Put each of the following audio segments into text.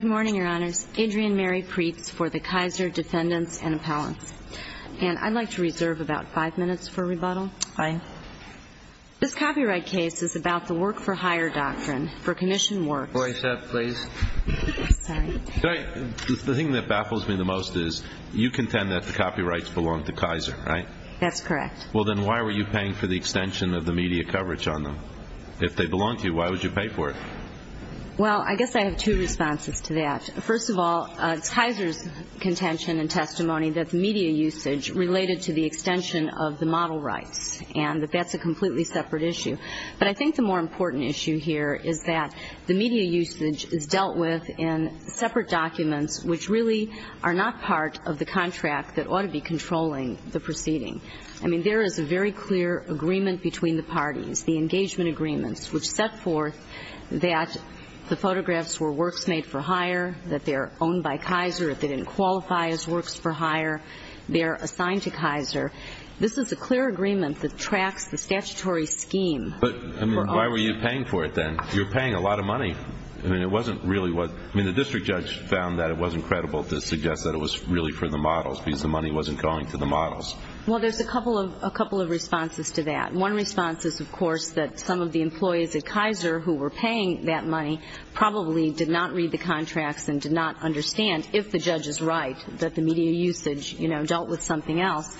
Good morning, your honors. Adrienne Mary Preetz for the Kaiser Defendants and Appellants. And I'd like to reserve about five minutes for rebuttal. Fine. This copyright case is about the work-for-hire doctrine for commissioned works. Voice up, please. Sorry. The thing that baffles me the most is you contend that the copyrights belong to Kaiser, right? That's correct. Well, then why were you paying for the extension of the media coverage on them? If they belong to you, why would you pay for it? Well, I guess I have two responses to that. First of all, it's Kaiser's contention and testimony that the media usage related to the extension of the model rights, and that that's a completely separate issue. But I think the more important issue here is that the media usage is dealt with in separate documents, which really are not part of the contract that ought to be controlling the proceeding. I mean, there is a very clear agreement between the parties, the engagement agreements, which set forth that the photographs were works made for hire, that they're owned by Kaiser. If they didn't qualify as works for hire, they're assigned to Kaiser. This is a clear agreement that tracks the statutory scheme. But, I mean, why were you paying for it then? You're paying a lot of money. I mean, it wasn't really what the district judge found that it wasn't credible to suggest that it was really for the models, because the money wasn't going to the models. Well, there's a couple of responses to that. One response is, of course, that some of the employees at Kaiser who were paying that money probably did not read the contracts and did not understand, if the judge is right, that the media usage dealt with something else,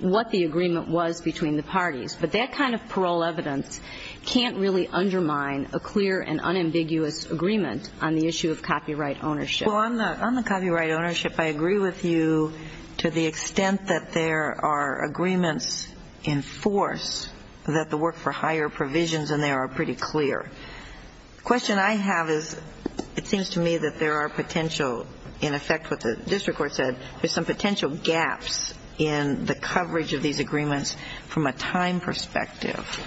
what the agreement was between the parties. But that kind of parole evidence can't really undermine a clear and unambiguous agreement on the issue of copyright ownership. Well, on the copyright ownership, I agree with you to the extent that there are agreements in force that the work for hire provisions in there are pretty clear. The question I have is, it seems to me that there are potential, in effect what the district court said, there's some potential gaps in the coverage of these agreements from a time perspective.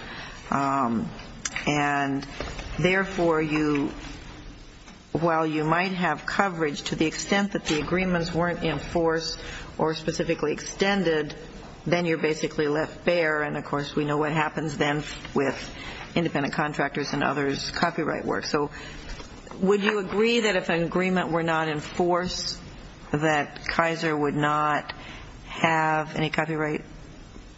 And therefore, while you might have coverage to the extent that the agreements weren't in force or specifically extended, then you're basically left bare. And, of course, we know what happens then with independent contractors and others' copyright work. So would you agree that if an agreement were not in force, that Kaiser would not have any copyright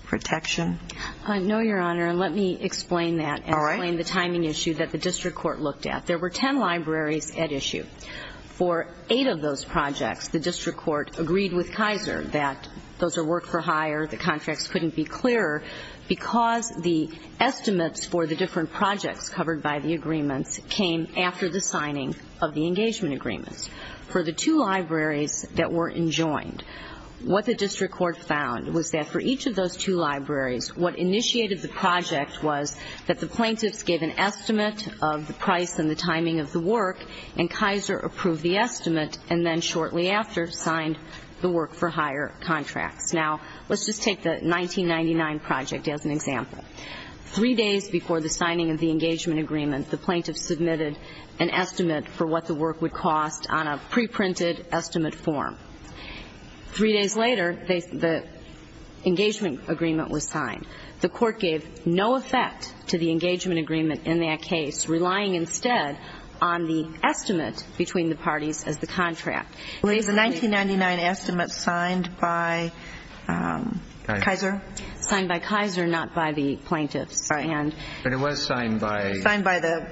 protection? No, Your Honor. And let me explain that and explain the timing issue that the district court looked at. There were ten libraries at issue. For eight of those projects, the district court agreed with Kaiser that those are work for hire, the contracts couldn't be clearer because the estimates for the different projects covered by the agreements came after the signing of the engagement agreements. For the two libraries that were enjoined, what the district court found was that for each of those two libraries, what initiated the project was that the plaintiffs gave an estimate of the price and the timing of the work and Kaiser approved the estimate and then shortly after signed the work for hire contracts. Now, let's just take the 1999 project as an example. Three days before the signing of the engagement agreement, the plaintiffs submitted an estimate for what the work would cost on a preprinted estimate form. Three days later, the engagement agreement was signed. The court gave no effect to the engagement agreement in that case, relying instead on the estimate between the parties as the contract. Was the 1999 estimate signed by Kaiser? Signed by Kaiser, not by the plaintiffs. But it was signed by the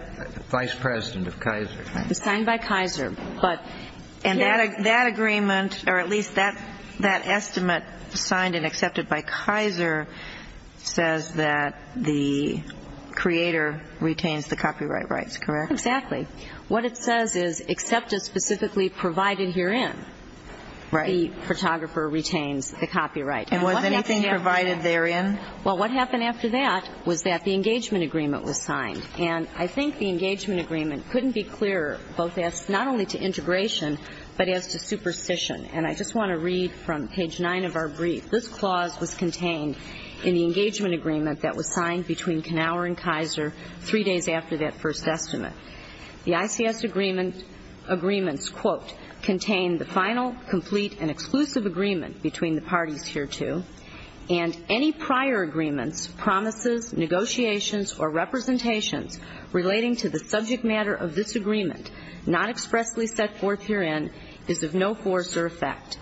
vice president of Kaiser. It was signed by Kaiser. And that agreement, or at least that estimate signed and accepted by Kaiser, says that the creator retains the copyright rights, correct? Exactly. What it says is, except as specifically provided herein, the photographer retains the copyright. And was anything provided therein? Well, what happened after that was that the engagement agreement was signed. And I think the engagement agreement couldn't be clearer, not only to integration, but as to superstition. And I just want to read from page 9 of our brief. This clause was contained in the engagement agreement that was signed between Knauer and Kaiser three days after that first estimate. The ICS agreements, quote, contain the final, complete, and exclusive agreement between the parties hereto, and any prior agreements, promises, negotiations, or representations relating to the subject matter of this agreement, not expressly set forth herein, is of no force or effect.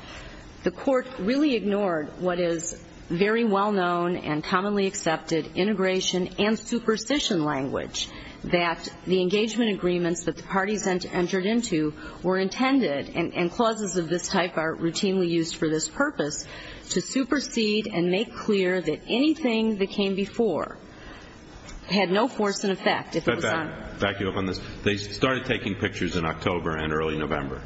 The court really ignored what is very well-known and commonly accepted integration and superstition language, that the engagement agreements that the parties entered into were intended, and clauses of this type are routinely used for this purpose, to supersede and make clear that anything that came before had no force and effect. Back you up on this. They started taking pictures in October and early November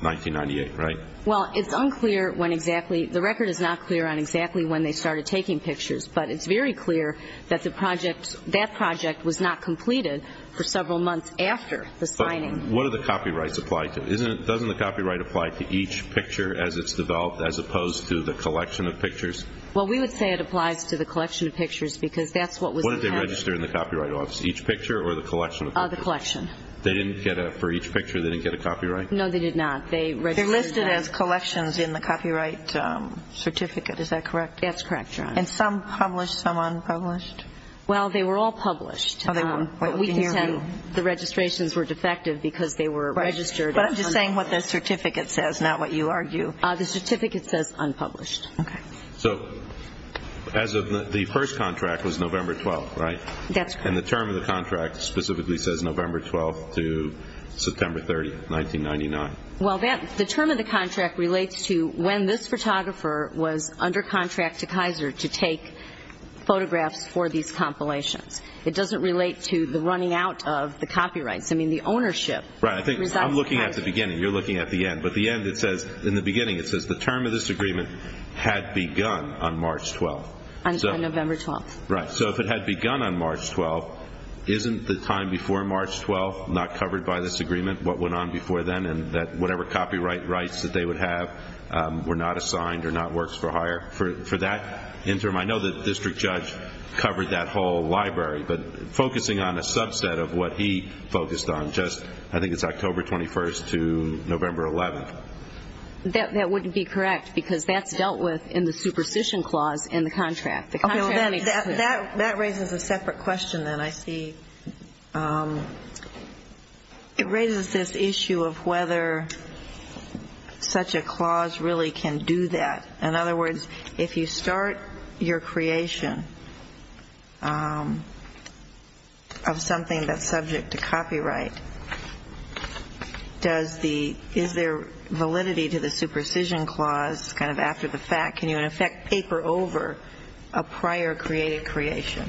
1998, right? Well, it's unclear when exactly. The record is not clear on exactly when they started taking pictures. But it's very clear that that project was not completed for several months after the signing. But what do the copyrights apply to? Doesn't the copyright apply to each picture as it's developed, as opposed to the collection of pictures? Well, we would say it applies to the collection of pictures because that's what was intended. What did they register in the Copyright Office, each picture or the collection of pictures? The collection. They didn't get a, for each picture, they didn't get a copyright? No, they did not. They registered. They're listed as collections in the copyright certificate, is that correct? That's correct, Your Honor. And some published, some unpublished? Well, they were all published. But we contend the registrations were defective because they were registered. But I'm just saying what the certificate says, not what you argue. The certificate says unpublished. Okay. So as of the first contract was November 12th, right? That's correct. And the term of the contract specifically says November 12th to September 30th, 1999. Well, the term of the contract relates to when this photographer was under contract to Kaiser to take photographs for these compilations. It doesn't relate to the running out of the copyrights. I mean, the ownership. Right. I'm looking at the beginning. You're looking at the end. But the end, it says, in the beginning, it says the term of this agreement had begun on March 12th. Until November 12th. Right. So if it had begun on March 12th, isn't the time before March 12th not covered by this agreement, what went on before then, and that whatever copyright rights that they would have were not assigned or not works for hire for that interim? I know the district judge covered that whole library. But focusing on a subset of what he focused on, I think it's October 21st to November 11th. That wouldn't be correct because that's dealt with in the superstition clause in the contract. That raises a separate question then, I see. It raises this issue of whether such a clause really can do that. In other words, if you start your creation of something that's subject to copyright, is there validity to the superstition clause kind of after the fact? Can you, in effect, paper over a prior created creation?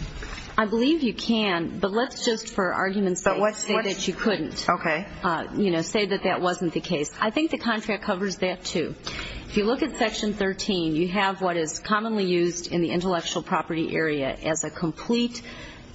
I believe you can. But let's just, for argument's sake, say that you couldn't. Okay. You know, say that that wasn't the case. I think the contract covers that, too. If you look at Section 13, you have what is commonly used in the intellectual property area as a complete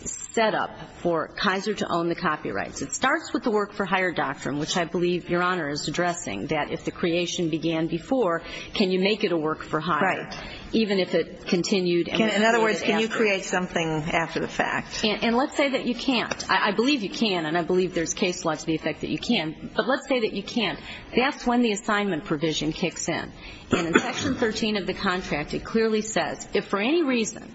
setup for Kaiser to own the copyrights. It starts with the work-for-hire doctrine, which I believe Your Honor is addressing, that if the creation began before, can you make it a work-for-hire? Right. Even if it continued and was created after. In other words, can you create something after the fact? And let's say that you can't. I believe you can, and I believe there's case law to the effect that you can. But let's say that you can't. That's when the assignment provision kicks in. And in Section 13 of the contract, it clearly says, if for any reason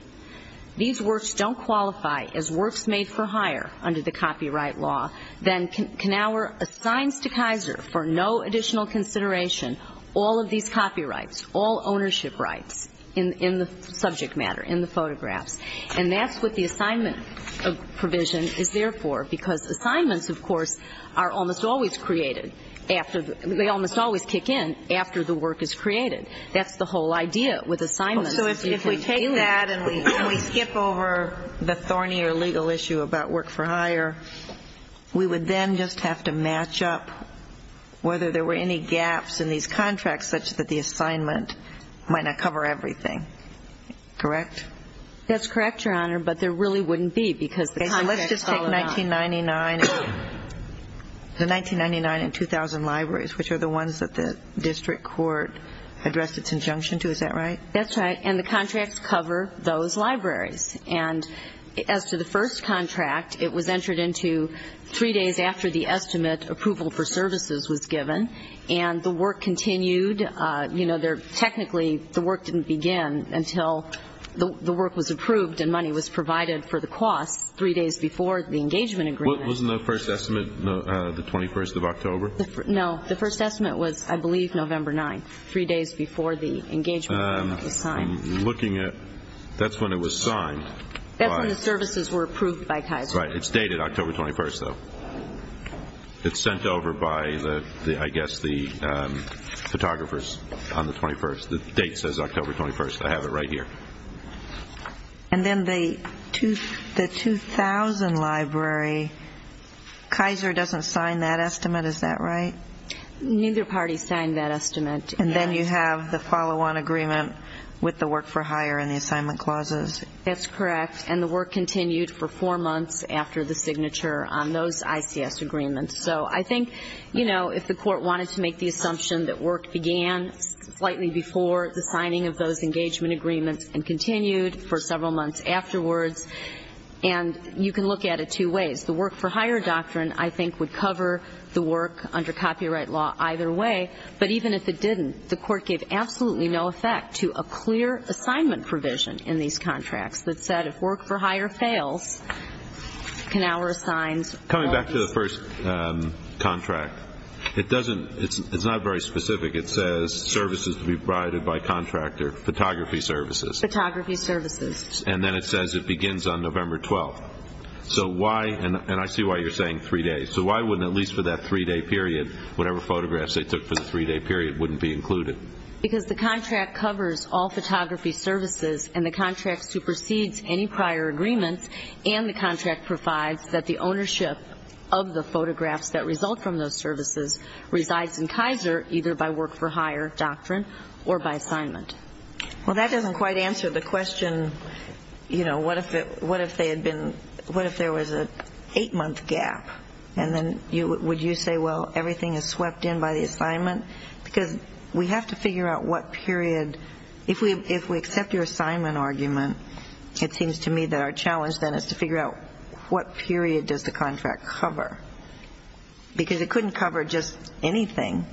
these works don't qualify as works made for hire under the copyright law, then Knauer assigns to Kaiser for no additional consideration all of these copyrights, all ownership rights in the subject matter, in the photographs. And that's what the assignment provision is there for, because assignments, of course, are almost always created after the work is created. They almost always kick in after the work is created. That's the whole idea with assignments. So if we take that and we skip over the thornier legal issue about work-for-hire, we would then just have to match up whether there were any gaps in these contracts such that the assignment might not cover everything. Correct? That's correct, Your Honor, but there really wouldn't be because the contracts fall out. Okay, so let's just take 1999 and 2000 libraries, which are the ones that the district court addressed its injunction to. Is that right? That's right, and the contracts cover those libraries. And as to the first contract, it was entered into three days after the estimate approval for services was given, and the work continued. Technically, the work didn't begin until the work was approved and money was provided for the costs three days before the engagement agreement. Wasn't the first estimate the 21st of October? No, the first estimate was, I believe, November 9th, three days before the engagement agreement was signed. That's when it was signed. That's when the services were approved by Kaiser. Right, it's dated October 21st, though. It's sent over by, I guess, the photographers on the 21st. The date says October 21st. I have it right here. And then the 2000 library, Kaiser doesn't sign that estimate. Is that right? Neither party signed that estimate. And then you have the follow-on agreement with the work for hire and the assignment clauses. That's correct, and the work continued for four months after the signature on those ICS agreements. So I think, you know, if the court wanted to make the assumption that work began slightly before the signing of those engagement agreements and continued for several months afterwards, and you can look at it two ways. The work for hire doctrine, I think, would cover the work under copyright law either way. But even if it didn't, the court gave absolutely no effect to a clear assignment provision in these contracts that said if work for hire fails, Knauer signs. Coming back to the first contract, it's not very specific. It says services to be provided by contractor, photography services. Photography services. And then it says it begins on November 12th. And I see why you're saying three days. So why wouldn't, at least for that three-day period, whatever photographs they took for the three-day period wouldn't be included? Because the contract covers all photography services, and the contract supersedes any prior agreements, and the contract provides that the ownership of the photographs that result from those services resides in Kaiser either by work for hire doctrine or by assignment. Well, that doesn't quite answer the question, you know, what if there was an eight-month gap? And then would you say, well, everything is swept in by the assignment? Because we have to figure out what period. If we accept your assignment argument, it seems to me that our challenge then is to figure out what period does the contract cover? Because it couldn't cover just anything.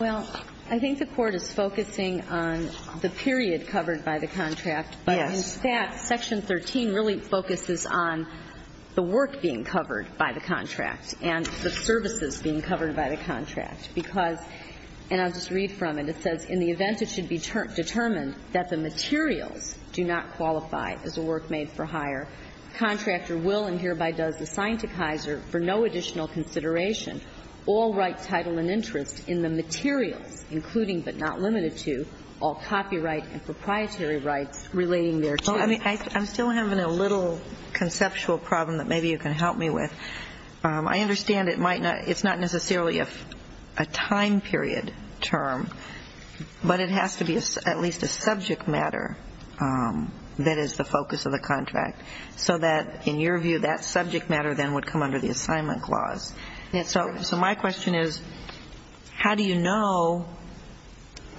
Well, I think the Court is focusing on the period covered by the contract. But in fact, Section 13 really focuses on the work being covered by the contract and the services being covered by the contract because, and I'll just read from it, it says in the event it should be determined that the materials do not qualify as a work made for hire, the contractor will and hereby does assign to Kaiser for no additional consideration all right, title, and interest in the materials, including but not limited to, all copyright and proprietary rights relating thereto. Well, I mean, I'm still having a little conceptual problem that maybe you can help me with. I understand it's not necessarily a time period term, but it has to be at least a subject matter that is the focus of the contract, so that in your view that subject matter then would come under the assignment clause. So my question is, how do you know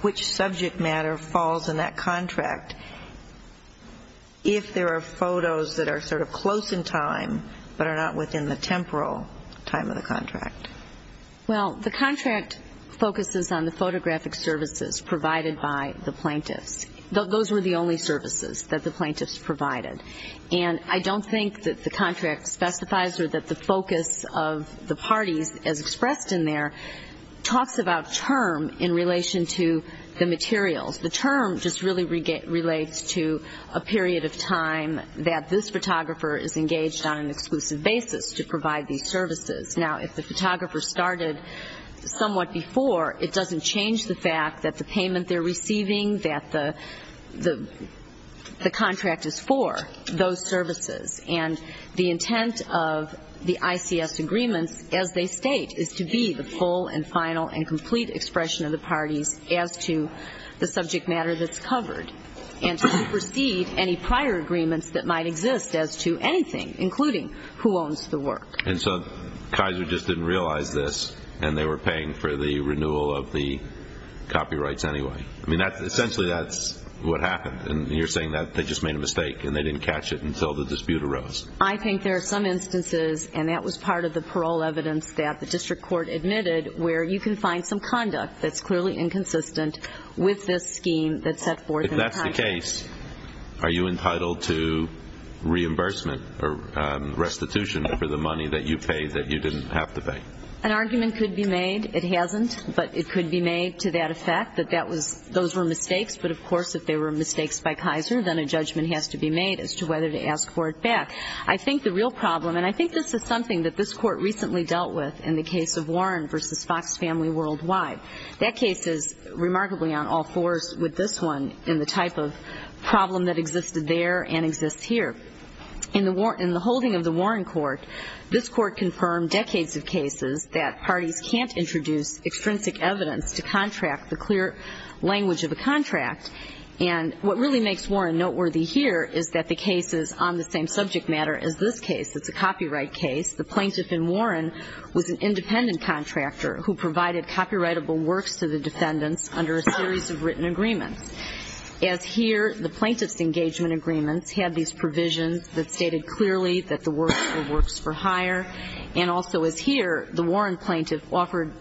which subject matter falls in that contract if there are photos that are sort of close in time but are not within the temporal time of the contract? Well, the contract focuses on the photographic services provided by the plaintiffs. Those were the only services that the plaintiffs provided. And I don't think that the contract specifies or that the focus of the parties as expressed in there talks about term in relation to the materials. The term just really relates to a period of time that this photographer is engaged on an exclusive basis to provide these services. Now, if the photographer started somewhat before, it doesn't change the fact that the payment they're receiving, that the contract is for those services. And the intent of the ICS agreements, as they state, is to be the full and final and complete expression of the parties as to the subject matter that's covered and to supersede any prior agreements that might exist as to anything, including who owns the work. And so Kaiser just didn't realize this and they were paying for the renewal of the copyrights anyway. I mean, essentially that's what happened. And you're saying that they just made a mistake and they didn't catch it until the dispute arose. I think there are some instances, and that was part of the parole evidence that the district court admitted, where you can find some conduct that's clearly inconsistent with this scheme that's set forth in the contract. If that's the case, are you entitled to reimbursement or restitution for the money that you paid that you didn't have to pay? An argument could be made. It hasn't, but it could be made to that effect that those were mistakes. But, of course, if they were mistakes by Kaiser, then a judgment has to be made as to whether to ask for it back. I think the real problem, and I think this is something that this court recently dealt with in the case of Warren v. Fox Family Worldwide. That case is remarkably on all fours with this one in the type of problem that existed there and exists here. In the holding of the Warren court, this court confirmed decades of cases that parties can't introduce extrinsic evidence to contract the clear language of a contract. And what really makes Warren noteworthy here is that the case is on the same subject matter as this case. It's a copyright case. The plaintiff in Warren was an independent contractor who provided copyrightable works to the defendants under a series of written agreements. As here, the plaintiff's engagement agreements had these provisions that stated clearly that the works were works for hire. And also as here, the Warren plaintiff offered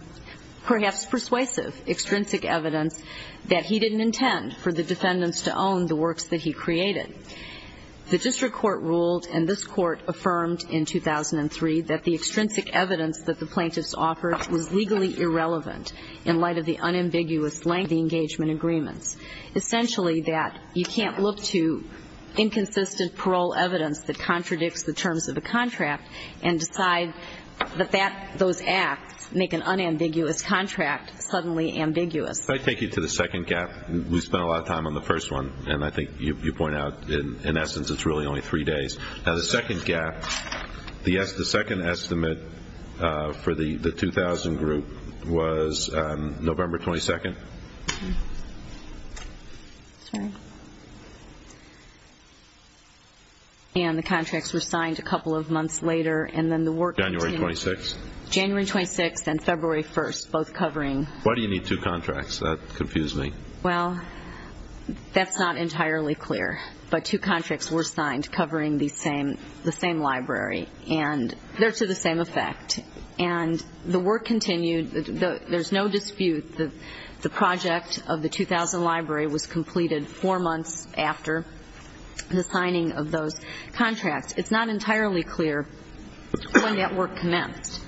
perhaps persuasive, extrinsic evidence that he didn't intend for the defendants to own the works that he created. The district court ruled, and this court affirmed in 2003, that the extrinsic evidence that the plaintiffs offered was legally irrelevant in light of the unambiguous length of the engagement agreements. Essentially that you can't look to inconsistent parole evidence that contradicts the terms of a contract and decide that those acts make an unambiguous contract suddenly ambiguous. If I take you to the second gap, we spent a lot of time on the first one, and I think you point out in essence it's really only three days. Now the second gap, the second estimate for the 2,000 group was November 22nd. And the contracts were signed a couple of months later, and then the work continued. January 26th. January 26th and February 1st, both covering. Why do you need two contracts? That confused me. Well, that's not entirely clear, but two contracts were signed covering the same library, and they're to the same effect. And the work continued. There's no dispute that the project of the 2,000 library was completed four months after the signing of those contracts. It's not entirely clear when that work commenced,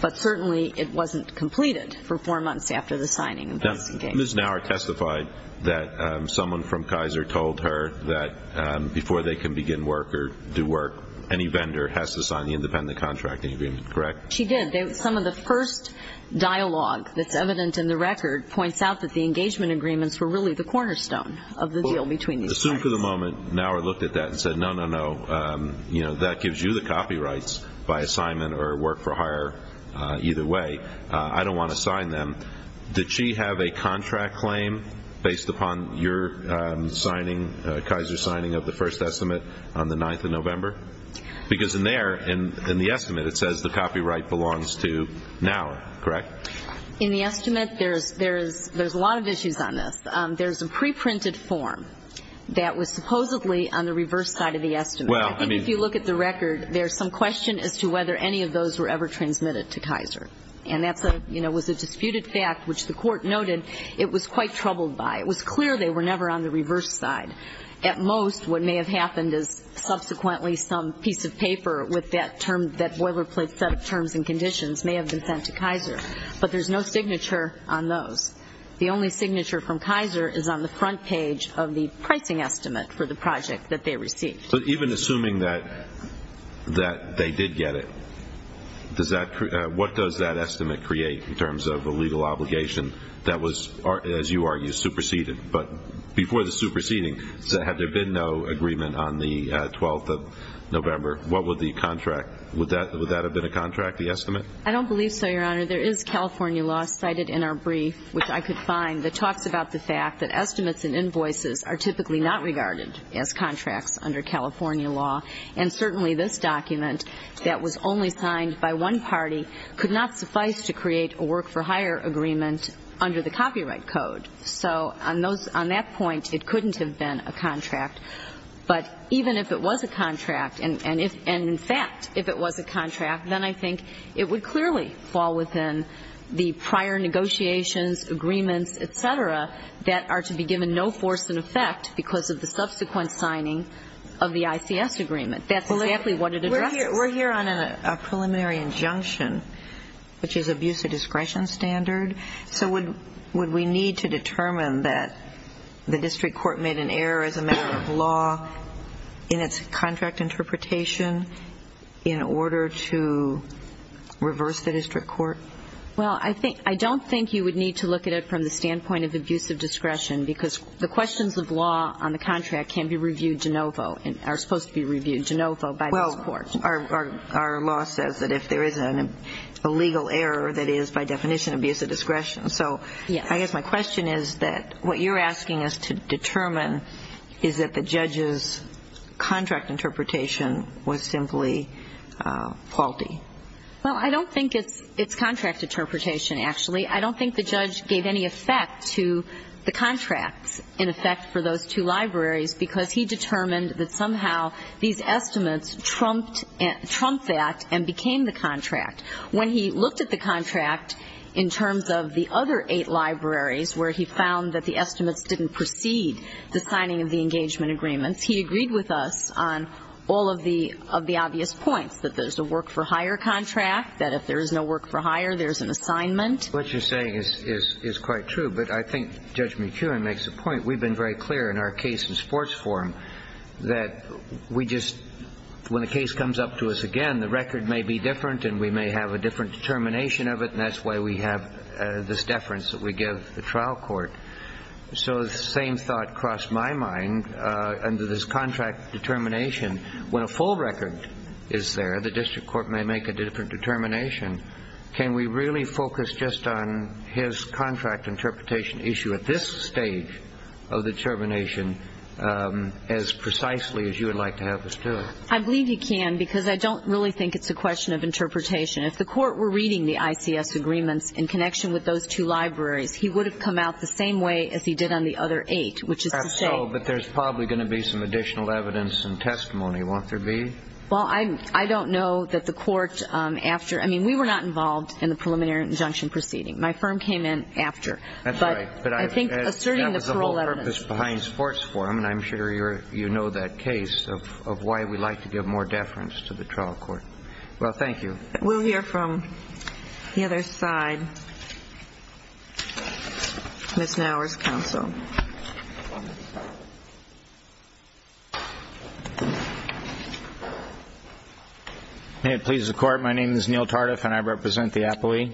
but certainly it wasn't completed for four months after the signing of those. Ms. Naur testified that someone from Kaiser told her that before they can begin work or do work, any vendor has to sign the independent contracting agreement, correct? She did. Some of the first dialogue that's evident in the record points out that the engagement agreements were really the cornerstone of the deal between these parties. Assume for the moment Naur looked at that and said, no, no, no, that gives you the copyrights by assignment or work for hire either way. I don't want to sign them. Did she have a contract claim based upon your signing, Kaiser's signing of the first estimate on the 9th of November? Because in there, in the estimate, it says the copyright belongs to Naur, correct? In the estimate, there's a lot of issues on this. There's a preprinted form that was supposedly on the reverse side of the estimate. I think if you look at the record, there's some question as to whether any of those were ever transmitted to Kaiser. And that was a disputed fact, which the court noted it was quite troubled by. It was clear they were never on the reverse side. At most, what may have happened is subsequently some piece of paper with that boilerplate set of terms and conditions may have been sent to Kaiser. But there's no signature on those. The only signature from Kaiser is on the front page of the pricing estimate for the project that they received. But even assuming that they did get it, what does that estimate create in terms of a legal obligation that was, as you argue, superseded? But before the superseding, had there been no agreement on the 12th of November, what would the contract, would that have been a contract, the estimate? I don't believe so, Your Honor. There is California law cited in our brief, which I could find, that talks about the fact that estimates and invoices are typically not regarded as contracts under California law. And certainly this document that was only signed by one party could not suffice to create a work-for-hire agreement under the copyright code. So on that point, it couldn't have been a contract. But even if it was a contract, and in fact, if it was a contract, then I think it would clearly fall within the prior negotiations, agreements, et cetera, that are to be given no force in effect because of the subsequent signing of the ICS agreement. That's exactly what it addresses. We're here on a preliminary injunction, which is abuse of discretion standard. So would we need to determine that the district court made an error as a matter of law in its contract interpretation in order to reverse the district court? Well, I don't think you would need to look at it from the standpoint of abuse of discretion because the questions of law on the contract can be reviewed de novo and are supposed to be reviewed de novo by this court. Well, our law says that if there is an illegal error, that is, by definition, abuse of discretion. So I guess my question is that what you're asking us to determine is that the judge's contract interpretation was simply faulty. Well, I don't think it's contract interpretation, actually. I don't think the judge gave any effect to the contracts, in effect, for those two libraries because he determined that somehow these estimates trumped that and became the contract. When he looked at the contract in terms of the other eight libraries where he found that the estimates didn't precede the signing of the engagement agreements, he agreed with us on all of the obvious points, that there's a work-for-hire contract, that if there is no work-for-hire, there's an assignment. What you're saying is quite true, but I think Judge McEwen makes a point. We've been very clear in our case in sports forum that we just, when the case comes up to us again, the record may be different and we may have a different determination of it, and that's why we have this deference that we give the trial court. So the same thought crossed my mind under this contract determination. When a full record is there, the district court may make a different determination. Can we really focus just on his contract interpretation issue at this stage of determination as precisely as you would like to have us do it? I believe you can because I don't really think it's a question of interpretation. If the court were reading the ICS agreements in connection with those two libraries, he would have come out the same way as he did on the other eight, which is to say. But there's probably going to be some additional evidence and testimony, won't there be? Well, I don't know that the court after. I mean, we were not involved in the preliminary injunction proceeding. My firm came in after. That's right. But I think asserting the parole evidence. That was the whole purpose behind sports forum, and I'm sure you know that case of why we like to give more deference to the trial court. Well, thank you. We'll hear from the other side. Ms. Nauers, counsel. May it please the Court. My name is Neil Tardif, and I represent the appellee.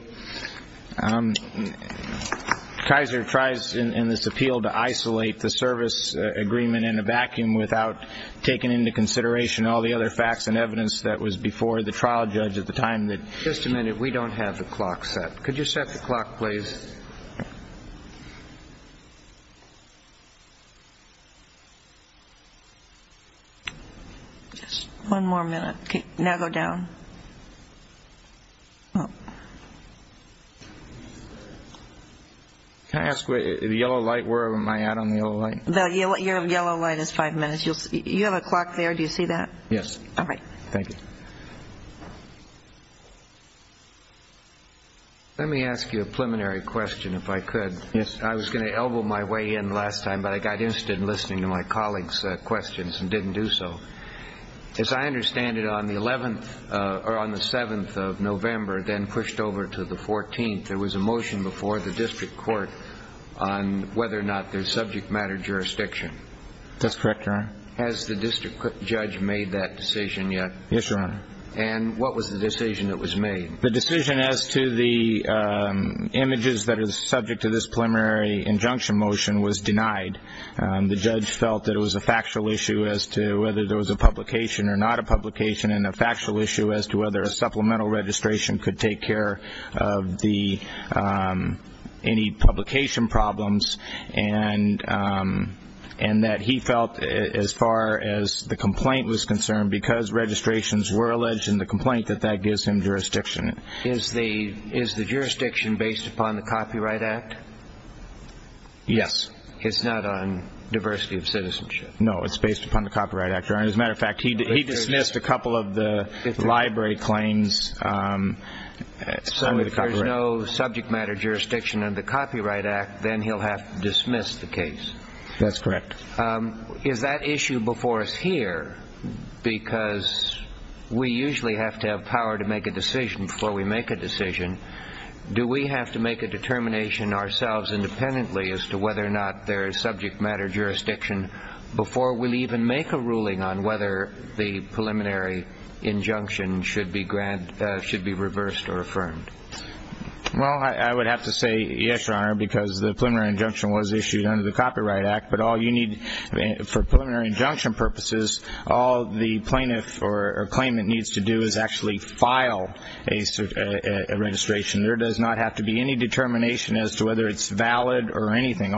Kaiser tries in this appeal to isolate the service agreement in a vacuum without taking into consideration all the other facts and evidence that was before the trial judge at the time. Just a minute. We don't have the clock set. Could you set the clock, please? One more minute. Now go down. Can I ask, the yellow light, where am I at on the yellow light? Your yellow light is five minutes. You have a clock there. Do you see that? Yes. All right. Thank you. Let me ask you a preliminary question, if I could. Yes. I was going to elbow my way in last time, but I got interested in listening to my colleagues' questions and didn't do so. As I understand it, on the 7th of November, then pushed over to the 14th, there was a motion before the district court on whether or not there's subject matter jurisdiction. That's correct, Your Honor. Has the district judge made that decision yet? Yes, Your Honor. And what was the decision that was made? The decision as to the images that are subject to this preliminary injunction motion was denied. The judge felt that it was a factual issue as to whether there was a publication or not a publication and a factual issue as to whether a supplemental registration could take care of any publication problems and that he felt as far as the complaint was concerned, because registrations were alleged in the complaint, that that gives him jurisdiction. Is the jurisdiction based upon the Copyright Act? Yes. It's not on diversity of citizenship? No, it's based upon the Copyright Act. As a matter of fact, he dismissed a couple of the library claims. So if there's no subject matter jurisdiction under the Copyright Act, then he'll have to dismiss the case? That's correct. Is that issue before us here, because we usually have to have power to make a decision before we make a decision, do we have to make a determination ourselves independently as to whether or not there is subject matter jurisdiction before we'll even make a ruling on whether the preliminary injunction should be reversed or affirmed? Well, I would have to say yes, Your Honor, because the preliminary injunction was issued under the Copyright Act, but for preliminary injunction purposes, all the plaintiff or claimant needs to do is actually file a registration. There does not have to be any determination as to whether it's valid or anything.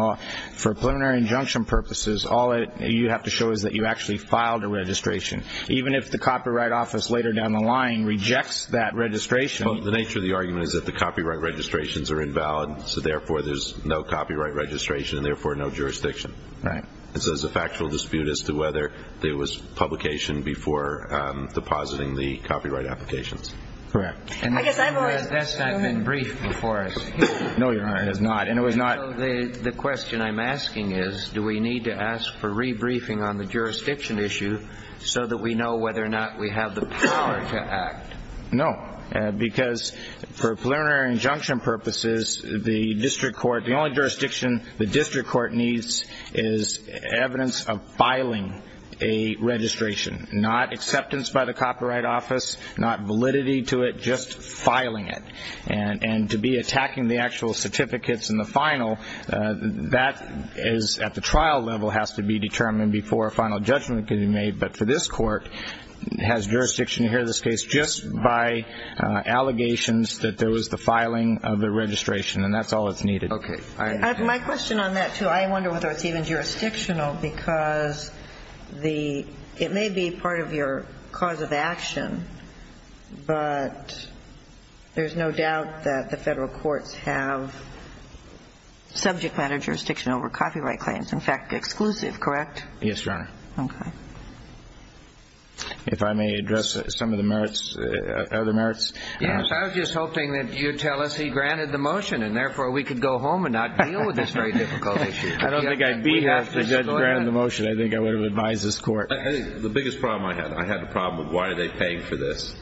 For preliminary injunction purposes, all you have to show is that you actually filed a registration, even if the Copyright Office later down the line rejects that registration. Well, the nature of the argument is that the copyright registrations are invalid, so therefore there's no copyright registration and therefore no jurisdiction. Right. So it's a factual dispute as to whether there was publication before depositing the copyright applications. Correct. I guess I've always been briefed before. No, Your Honor, it is not. The question I'm asking is do we need to ask for rebriefing on the jurisdiction issue so that we know whether or not we have the power to act? No, because for preliminary injunction purposes, the only jurisdiction the district court needs is evidence of filing a registration, not acceptance by the Copyright Office, not validity to it, just filing it, and to be attacking the actual certificates in the final, that is at the trial level has to be determined before a final judgment can be made. But for this court, it has jurisdiction here in this case just by allegations that there was the filing of the registration, and that's all that's needed. Okay. My question on that, too, I wonder whether it's even jurisdictional, because it may be part of your cause of action, but there's no doubt that the federal courts have subject matter jurisdiction over copyright claims. In fact, exclusive, correct? Yes, Your Honor. Okay. If I may address some of the merits, other merits. Yes, I was just hoping that you'd tell us he granted the motion, and therefore we could go home and not deal with this very difficult issue. I don't think I'd be happy to grant the motion. I think I would have advised this court. The biggest problem I had, I had the problem of why are they paying for this.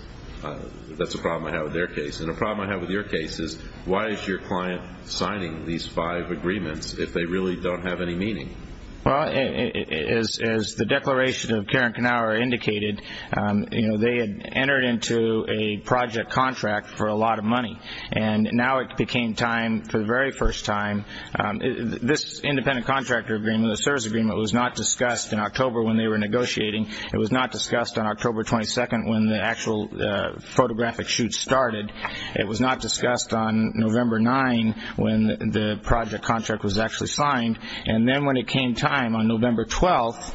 That's a problem I have with their case. And a problem I have with your case is why is your client signing these five agreements if they really don't have any meaning? Well, as the declaration of Karen Knauer indicated, they had entered into a project contract for a lot of money, and now it became time for the very first time. This independent contractor agreement, the service agreement, was not discussed in October when they were negotiating. It was not discussed on October 22nd when the actual photographic shoot started. It was not discussed on November 9th when the project contract was actually signed. And then when it came time on November 12th,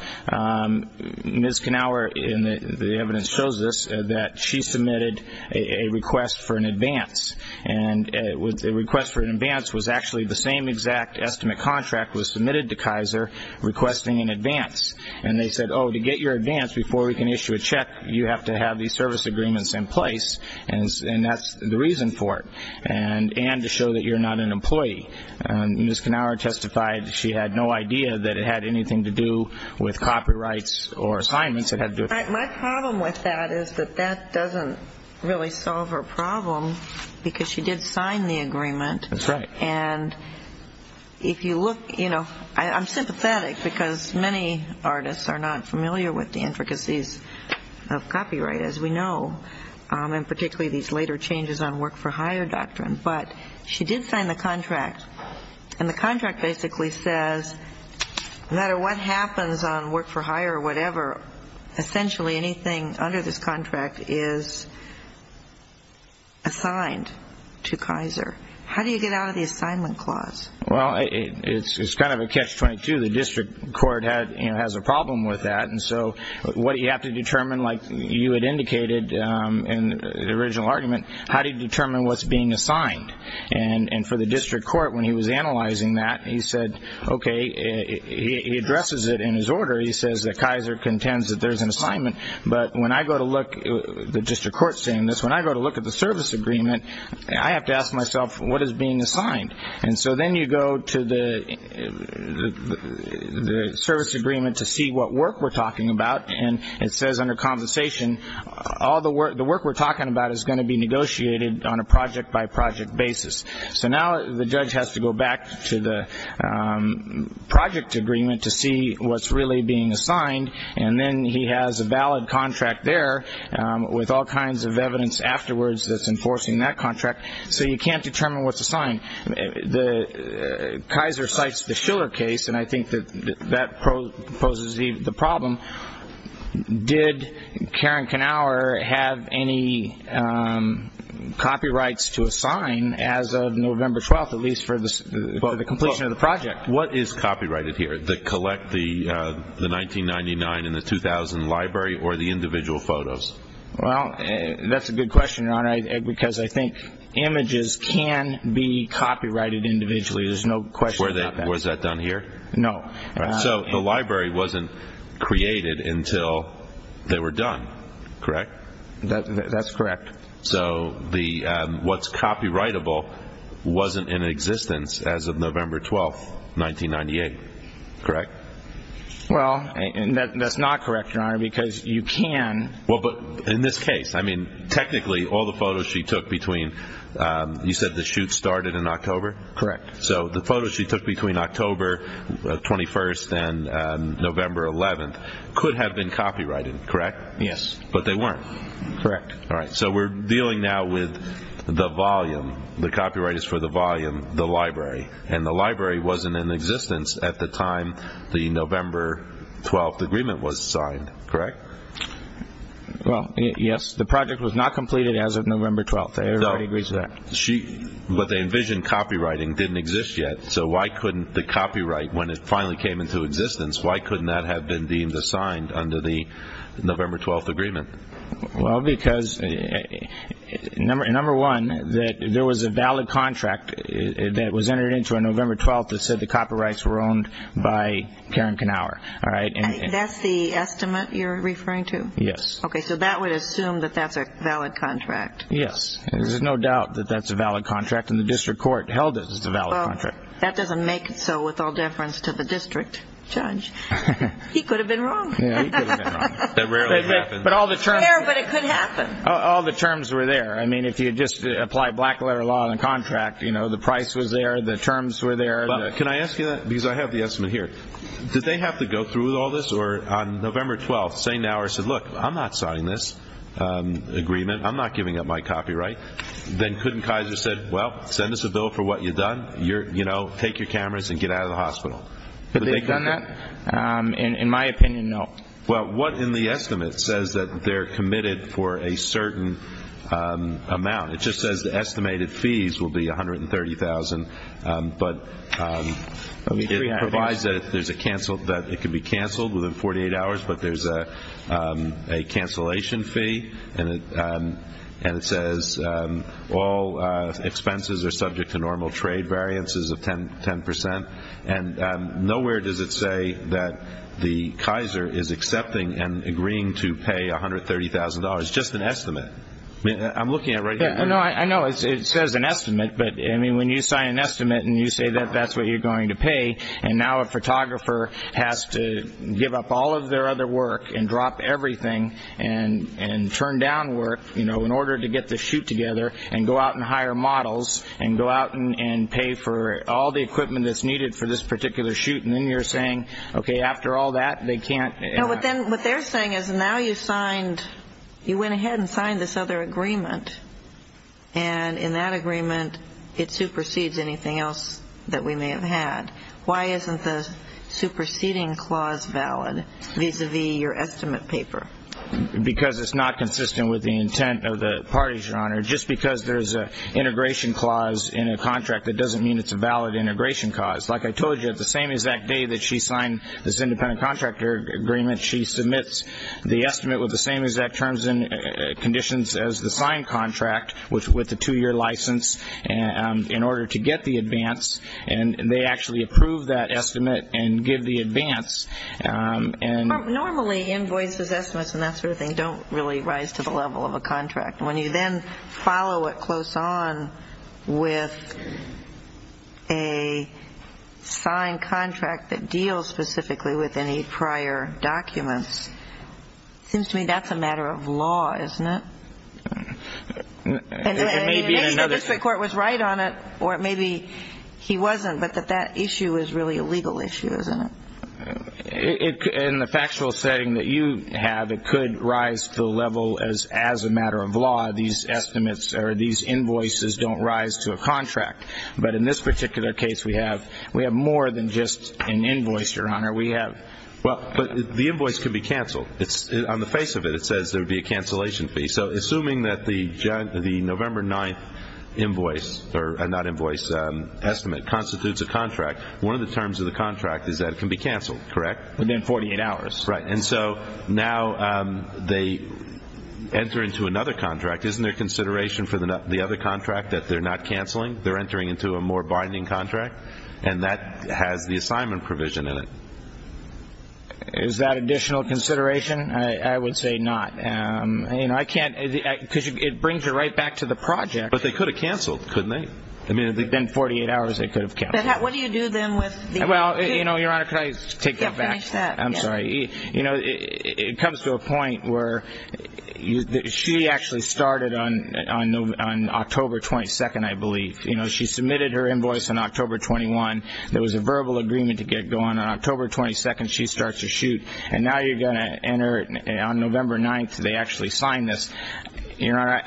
Ms. Knauer, and the evidence shows this, that she submitted a request for an advance. And the request for an advance was actually the same exact estimate contract was submitted to Kaiser requesting an advance. And they said, oh, to get your advance before we can issue a check, you have to have these service agreements in place, and that's the reason for it, and to show that you're not an employee. Ms. Knauer testified she had no idea that it had anything to do with copyrights or assignments. My problem with that is that that doesn't really solve her problem, because she did sign the agreement. That's right. And if you look, you know, I'm sympathetic, because many artists are not familiar with the intricacies of copyright, as we know, and particularly these later changes on work-for-hire doctrine. But she did sign the contract, and the contract basically says, no matter what happens on work-for-hire or whatever, essentially anything under this contract is assigned to Kaiser. How do you get out of the assignment clause? Well, it's kind of a catch-22. The district court has a problem with that, and so what you have to determine, like you had indicated in the original argument, how do you determine what's being assigned? And for the district court, when he was analyzing that, he said, okay. He addresses it in his order. He says that Kaiser contends that there's an assignment. But when I go to look, the district court's saying this, when I go to look at the service agreement, I have to ask myself, what is being assigned? And so then you go to the service agreement to see what work we're talking about, and it says under conversation, all the work we're talking about is going to be negotiated on a project-by-project basis. So now the judge has to go back to the project agreement to see what's really being assigned, and then he has a valid contract there with all kinds of evidence afterwards that's enforcing that contract, so you can't determine what's assigned. Kaiser cites the Schiller case, and I think that that poses the problem. Did Karen Knauer have any copyrights to assign as of November 12th, at least for the completion of the project? What is copyrighted here, the collect the 1999 and the 2000 library or the individual photos? Well, that's a good question, Your Honor, because I think images can be copyrighted individually. There's no question about that. Was that done here? No. So the library wasn't created until they were done, correct? That's correct. So what's copyrightable wasn't in existence as of November 12th, 1998, correct? Well, that's not correct, Your Honor, because you can. Well, but in this case, I mean, technically all the photos she took between, you said the shoot started in October? Correct. So the photos she took between October 21st and November 11th could have been copyrighted, correct? Yes. But they weren't? Correct. All right, so we're dealing now with the volume, the copyright is for the volume, the library, and the library wasn't in existence at the time the November 12th agreement was signed, correct? Well, yes, the project was not completed as of November 12th. Everybody agrees with that. But they envisioned copywriting didn't exist yet, so why couldn't the copyright, when it finally came into existence, why couldn't that have been deemed assigned under the November 12th agreement? Well, because, number one, there was a valid contract that was entered into on November 12th that said the copyrights were owned by Karen Knauer. That's the estimate you're referring to? Yes. Okay, so that would assume that that's a valid contract. Yes. There's no doubt that that's a valid contract, and the district court held it as a valid contract. Well, that doesn't make it so with all deference to the district judge. He could have been wrong. Yeah, he could have been wrong. That rarely happens. It's there, but it could happen. All the terms were there. I mean, if you just apply black-letter law on a contract, you know, the price was there, the terms were there. Can I ask you that? Because I have the estimate here. Did they have to go through with all this or on November 12th say, Look, I'm not signing this agreement. I'm not giving up my copyright. Then couldn't Kaiser say, Well, send us a bill for what you've done. You know, take your cameras and get out of the hospital. Have they done that? In my opinion, no. Well, what in the estimate says that they're committed for a certain amount? It just says the estimated fees will be $130,000, but it provides that it can be canceled within 48 hours, but there's a cancellation fee, and it says all expenses are subject to normal trade variances of 10 percent. And nowhere does it say that the Kaiser is accepting and agreeing to pay $130,000. It's just an estimate. I mean, I'm looking at it right here. I know. It says an estimate, but, I mean, when you sign an estimate and you say that that's what you're going to pay, and now a photographer has to give up all of their other work and drop everything and turn down work in order to get the shoot together and go out and hire models and go out and pay for all the equipment that's needed for this particular shoot, and then you're saying, Okay, after all that, they can't. What they're saying is now you went ahead and signed this other agreement, and in that agreement it supersedes anything else that we may have had. Why isn't the superseding clause valid vis-à-vis your estimate paper? Because it's not consistent with the intent of the parties, Your Honor. Just because there's an integration clause in a contract, that doesn't mean it's a valid integration clause. Like I told you, the same exact day that she signed this independent contractor agreement, she submits the estimate with the same exact terms and conditions as the signed contract with the two-year license in order to get the advance, and they actually approve that estimate and give the advance. Normally, invoices, estimates, and that sort of thing don't really rise to the level of a contract. When you then follow it close on with a signed contract that deals specifically with any prior documents, it seems to me that's a matter of law, isn't it? It may be that the district court was right on it, or it may be he wasn't, but that that issue is really a legal issue, isn't it? In the factual setting that you have, it could rise to the level as a matter of law, these estimates or these invoices don't rise to a contract. But in this particular case, we have more than just an invoice, Your Honor. Well, the invoice could be canceled. On the face of it, it says there would be a cancellation fee. So assuming that the November 9th invoice, or not invoice, estimate constitutes a contract, one of the terms of the contract is that it can be canceled, correct? Within 48 hours. Right. And so now they enter into another contract. Isn't there consideration for the other contract that they're not canceling? They're entering into a more binding contract, and that has the assignment provision in it. Is that additional consideration? I would say not, because it brings it right back to the project. But they could have canceled, couldn't they? I mean, within 48 hours, they could have canceled. But what do you do then with the other two? Well, Your Honor, could I take that back? Yeah, finish that. I'm sorry. You know, it comes to a point where she actually started on October 22nd, I believe. You know, she submitted her invoice on October 21. There was a verbal agreement to get going. On October 22nd, she starts to shoot. And now you're going to enter on November 9th, they actually sign this. Your Honor,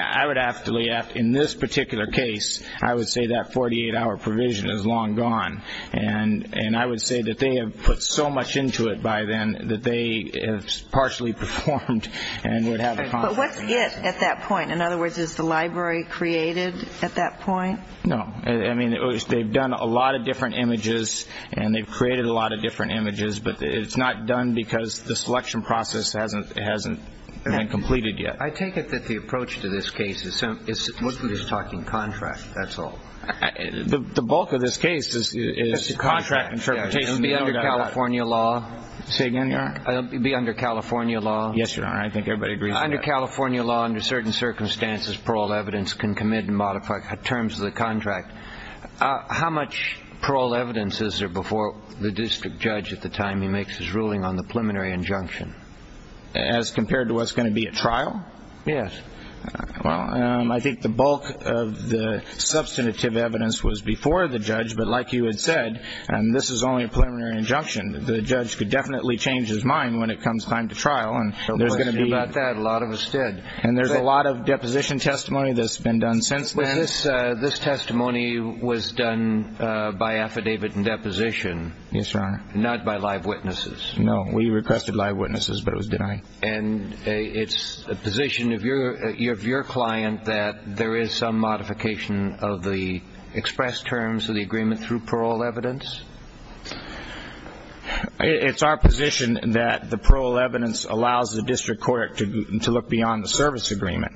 in this particular case, I would say that 48-hour provision is long gone. And I would say that they have put so much into it by then that they have partially performed. But what's it at that point? In other words, is the library created at that point? No. I mean, they've done a lot of different images, and they've created a lot of different images. But it's not done because the selection process hasn't been completed yet. I take it that the approach to this case is simply talking contract, that's all. The bulk of this case is contract interpretation. It would be under California law. Say again, Your Honor? It would be under California law. Yes, Your Honor. I think everybody agrees with that. Under California law, under certain circumstances, paroled evidence can commit and modify terms of the contract. How much paroled evidence is there before the district judge at the time he makes his ruling on the preliminary injunction? As compared to what's going to be at trial? Yes. Well, I think the bulk of the substantive evidence was before the judge. But like you had said, this is only a preliminary injunction. The judge could definitely change his mind when it comes time to trial. And there's going to be – A lot of us did. And there's a lot of deposition testimony that's been done since then. This testimony was done by affidavit and deposition. Yes, Your Honor. Not by live witnesses. No, we requested live witnesses, but it was denied. And it's a position of your client that there is some modification of the expressed terms of the agreement through paroled evidence? It's our position that the paroled evidence allows the district court to look beyond the service agreement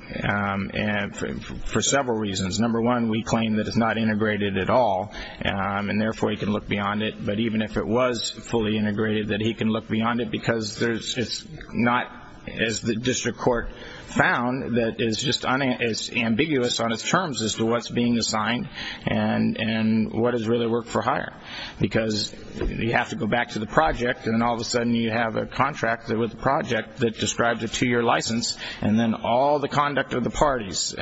for several reasons. Number one, we claim that it's not integrated at all, and therefore he can look beyond it. But even if it was fully integrated, that he can look beyond it because it's not, as the district court found, that it's ambiguous on its terms as to what's being assigned and what is really work for hire. Because you have to go back to the project, and all of a sudden you have a contract with the project that describes a two-year license, and then all the conduct of the parties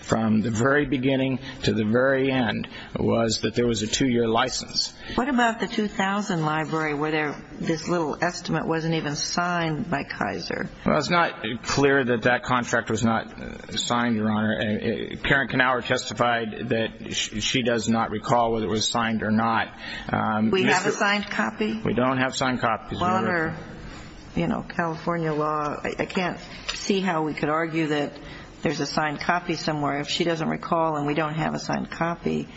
from the very beginning to the very end was that there was a two-year license. What about the 2000 library where this little estimate wasn't even signed by Kaiser? Well, it's not clear that that contract was not signed, Your Honor. Karen Knauer testified that she does not recall whether it was signed or not. We have a signed copy? We don't have signed copies, Your Honor. Water, you know, California law. I can't see how we could argue that there's a signed copy somewhere. If she doesn't recall and we don't have a signed copy,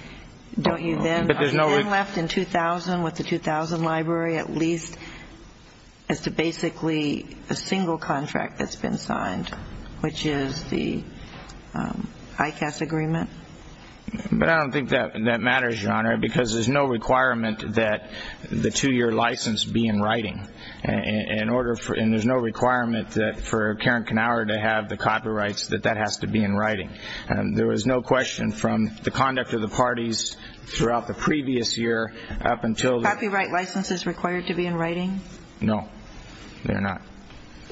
don't you then? I've been left in 2000 with the 2000 library at least as to basically a single contract that's been signed, which is the ICAS agreement. But I don't think that matters, Your Honor, because there's no requirement that the two-year license be in writing. And there's no requirement for Karen Knauer to have the copyrights, that that has to be in writing. There was no question from the conduct of the parties throughout the previous year up until the- Copyright licenses required to be in writing? No, they're not.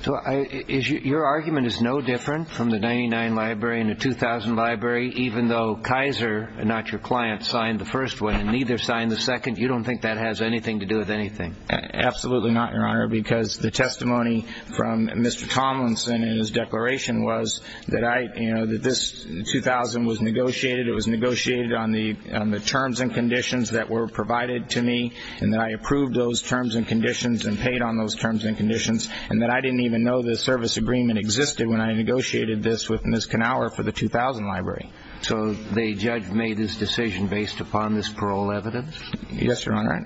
So your argument is no different from the 99 library and the 2000 library, even though Kaiser, not your client, signed the first one and neither signed the second? You don't think that has anything to do with anything? Absolutely not, Your Honor, because the testimony from Mr. Tomlinson in his declaration was that I, you know, that this 2000 was negotiated. It was negotiated on the terms and conditions that were provided to me, and that I approved those terms and conditions and paid on those terms and conditions, and that I didn't even know the service agreement existed when I negotiated this with Ms. Knauer for the 2000 library. So the judge made his decision based upon this parole evidence? Yes, Your Honor.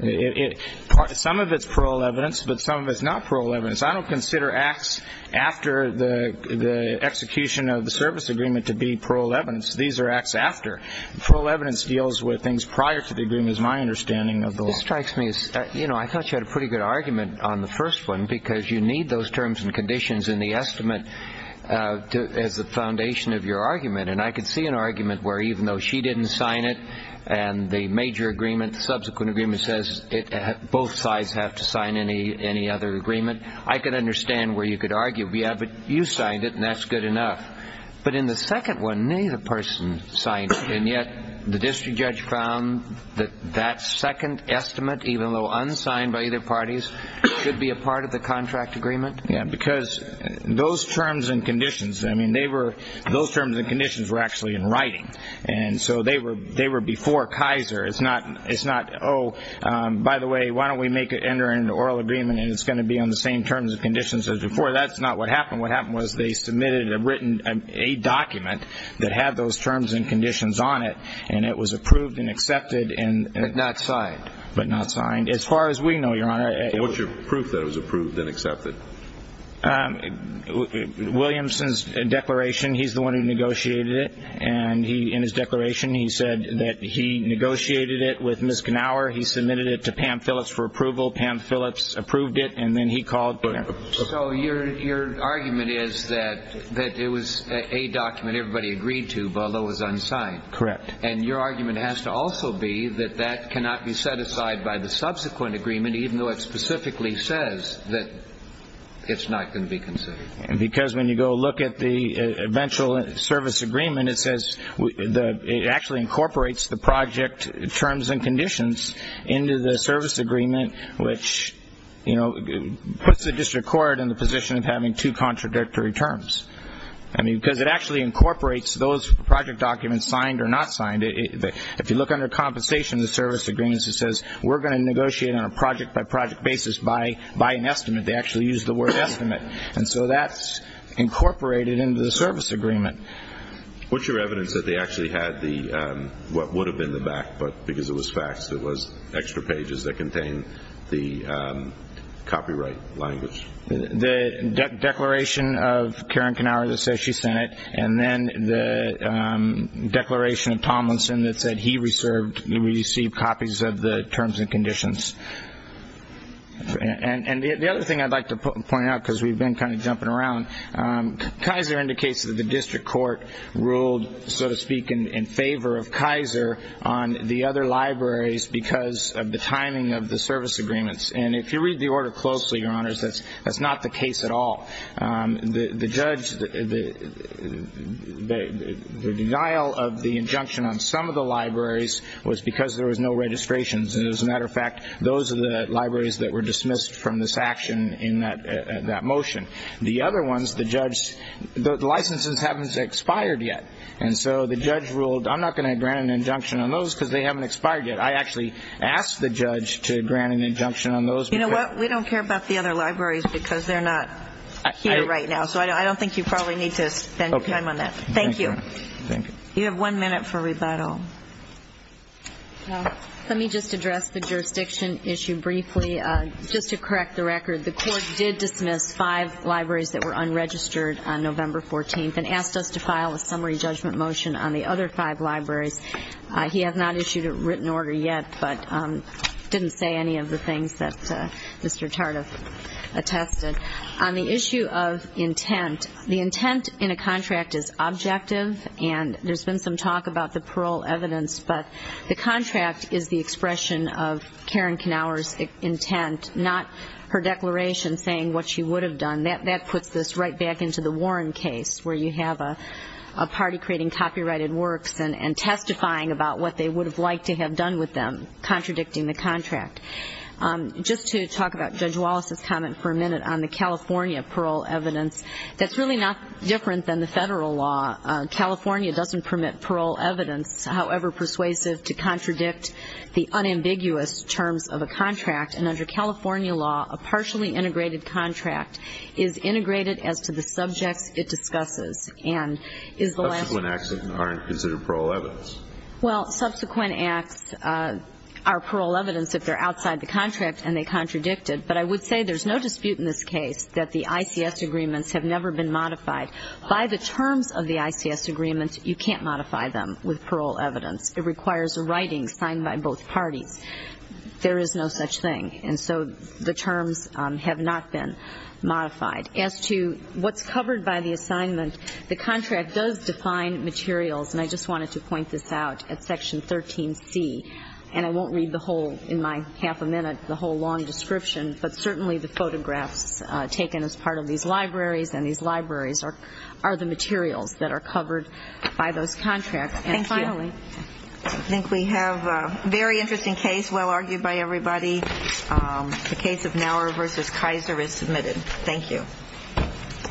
Some of it's parole evidence, but some of it's not parole evidence. I don't consider acts after the execution of the service agreement to be parole evidence. These are acts after. Parole evidence deals with things prior to the agreement is my understanding of the law. This strikes me as, you know, I thought you had a pretty good argument on the first one, because you need those terms and conditions in the estimate as the foundation of your argument. And I could see an argument where even though she didn't sign it and the major agreement, subsequent agreement says both sides have to sign any other agreement, I could understand where you could argue, but you signed it, and that's good enough. But in the second one, neither person signed it, and yet the district judge found that that second estimate, even though unsigned by either parties, should be a part of the contract agreement? Yeah, because those terms and conditions, I mean, those terms and conditions were actually in writing, and so they were before Kaiser. It's not, oh, by the way, why don't we make an oral agreement, and it's going to be on the same terms and conditions as before. That's not what happened. What happened was they submitted a written document that had those terms and conditions on it, and it was approved and accepted and not signed. As far as we know, Your Honor. So what's your proof that it was approved and accepted? Williamson's declaration, he's the one who negotiated it, and in his declaration he said that he negotiated it with Ms. Knauer. He submitted it to Pam Phillips for approval. Pam Phillips approved it, and then he called it. So your argument is that it was a document everybody agreed to, although it was unsigned. Correct. And your argument has to also be that that cannot be set aside by the subsequent agreement, even though it specifically says that it's not going to be considered. Because when you go look at the eventual service agreement, it says it actually incorporates the project terms and conditions into the service agreement, which puts the district court in the position of having two contradictory terms. Because it actually incorporates those project documents, signed or not signed. If you look under compensation in the service agreements, it says, we're going to negotiate on a project-by-project basis by an estimate. They actually use the word estimate. And so that's incorporated into the service agreement. What's your evidence that they actually had what would have been the back, but because it was facts, it was extra pages that contained the copyright language? The declaration of Karen Knauer that says she sent it, and then the declaration of Tomlinson that said he received copies of the terms and conditions. And the other thing I'd like to point out, because we've been kind of jumping around, Kaiser indicates that the district court ruled, so to speak, in favor of Kaiser on the other libraries because of the timing of the service agreements. And if you read the order closely, Your Honors, that's not the case at all. The judge, the denial of the injunction on some of the libraries was because there was no registrations. And as a matter of fact, those are the libraries that were dismissed from this action in that motion. The other ones, the judge, the licenses haven't expired yet. And so the judge ruled, I'm not going to grant an injunction on those because they haven't expired yet. I actually asked the judge to grant an injunction on those. You know what? We don't care about the other libraries because they're not here right now. So I don't think you probably need to spend time on that. Thank you. Thank you. You have one minute for rebuttal. Let me just address the jurisdiction issue briefly. Just to correct the record, the court did dismiss five libraries that were unregistered on November 14th and asked us to file a summary judgment motion on the other five libraries. He has not issued a written order yet, but didn't say any of the things that Mr. Tardiff attested. On the issue of intent, the intent in a contract is objective, and there's been some talk about the parole evidence, but the contract is the expression of Karen Knauer's intent, not her declaration saying what she would have done. That puts this right back into the Warren case where you have a party creating copyrighted works and testifying about what they would have liked to have done with them, contradicting the contract. Just to talk about Judge Wallace's comment for a minute on the California parole evidence, that's really not different than the federal law. California doesn't permit parole evidence, however persuasive, to contradict the unambiguous terms of a contract. And under California law, a partially integrated contract is integrated as to the subjects it discusses. Subsequent acts aren't considered parole evidence. Well, subsequent acts are parole evidence if they're outside the contract and they contradicted, but I would say there's no dispute in this case that the ICS agreements have never been modified. By the terms of the ICS agreement, you can't modify them with parole evidence. It requires a writing signed by both parties. There is no such thing, and so the terms have not been modified. As to what's covered by the assignment, the contract does define materials, and I just wanted to point this out at Section 13C, and I won't read the whole, in my half a minute, the whole long description, but certainly the photographs taken as part of these libraries and these libraries are the materials that are covered by those contracts. And finally, I think we have a very interesting case, well argued by everybody. The case of Nauer v. Kaiser is submitted. Thank you. Thank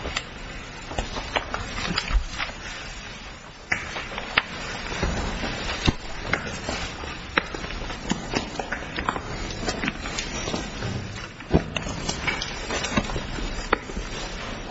you. All rise. Before the session can begin. Thank you. Thank you.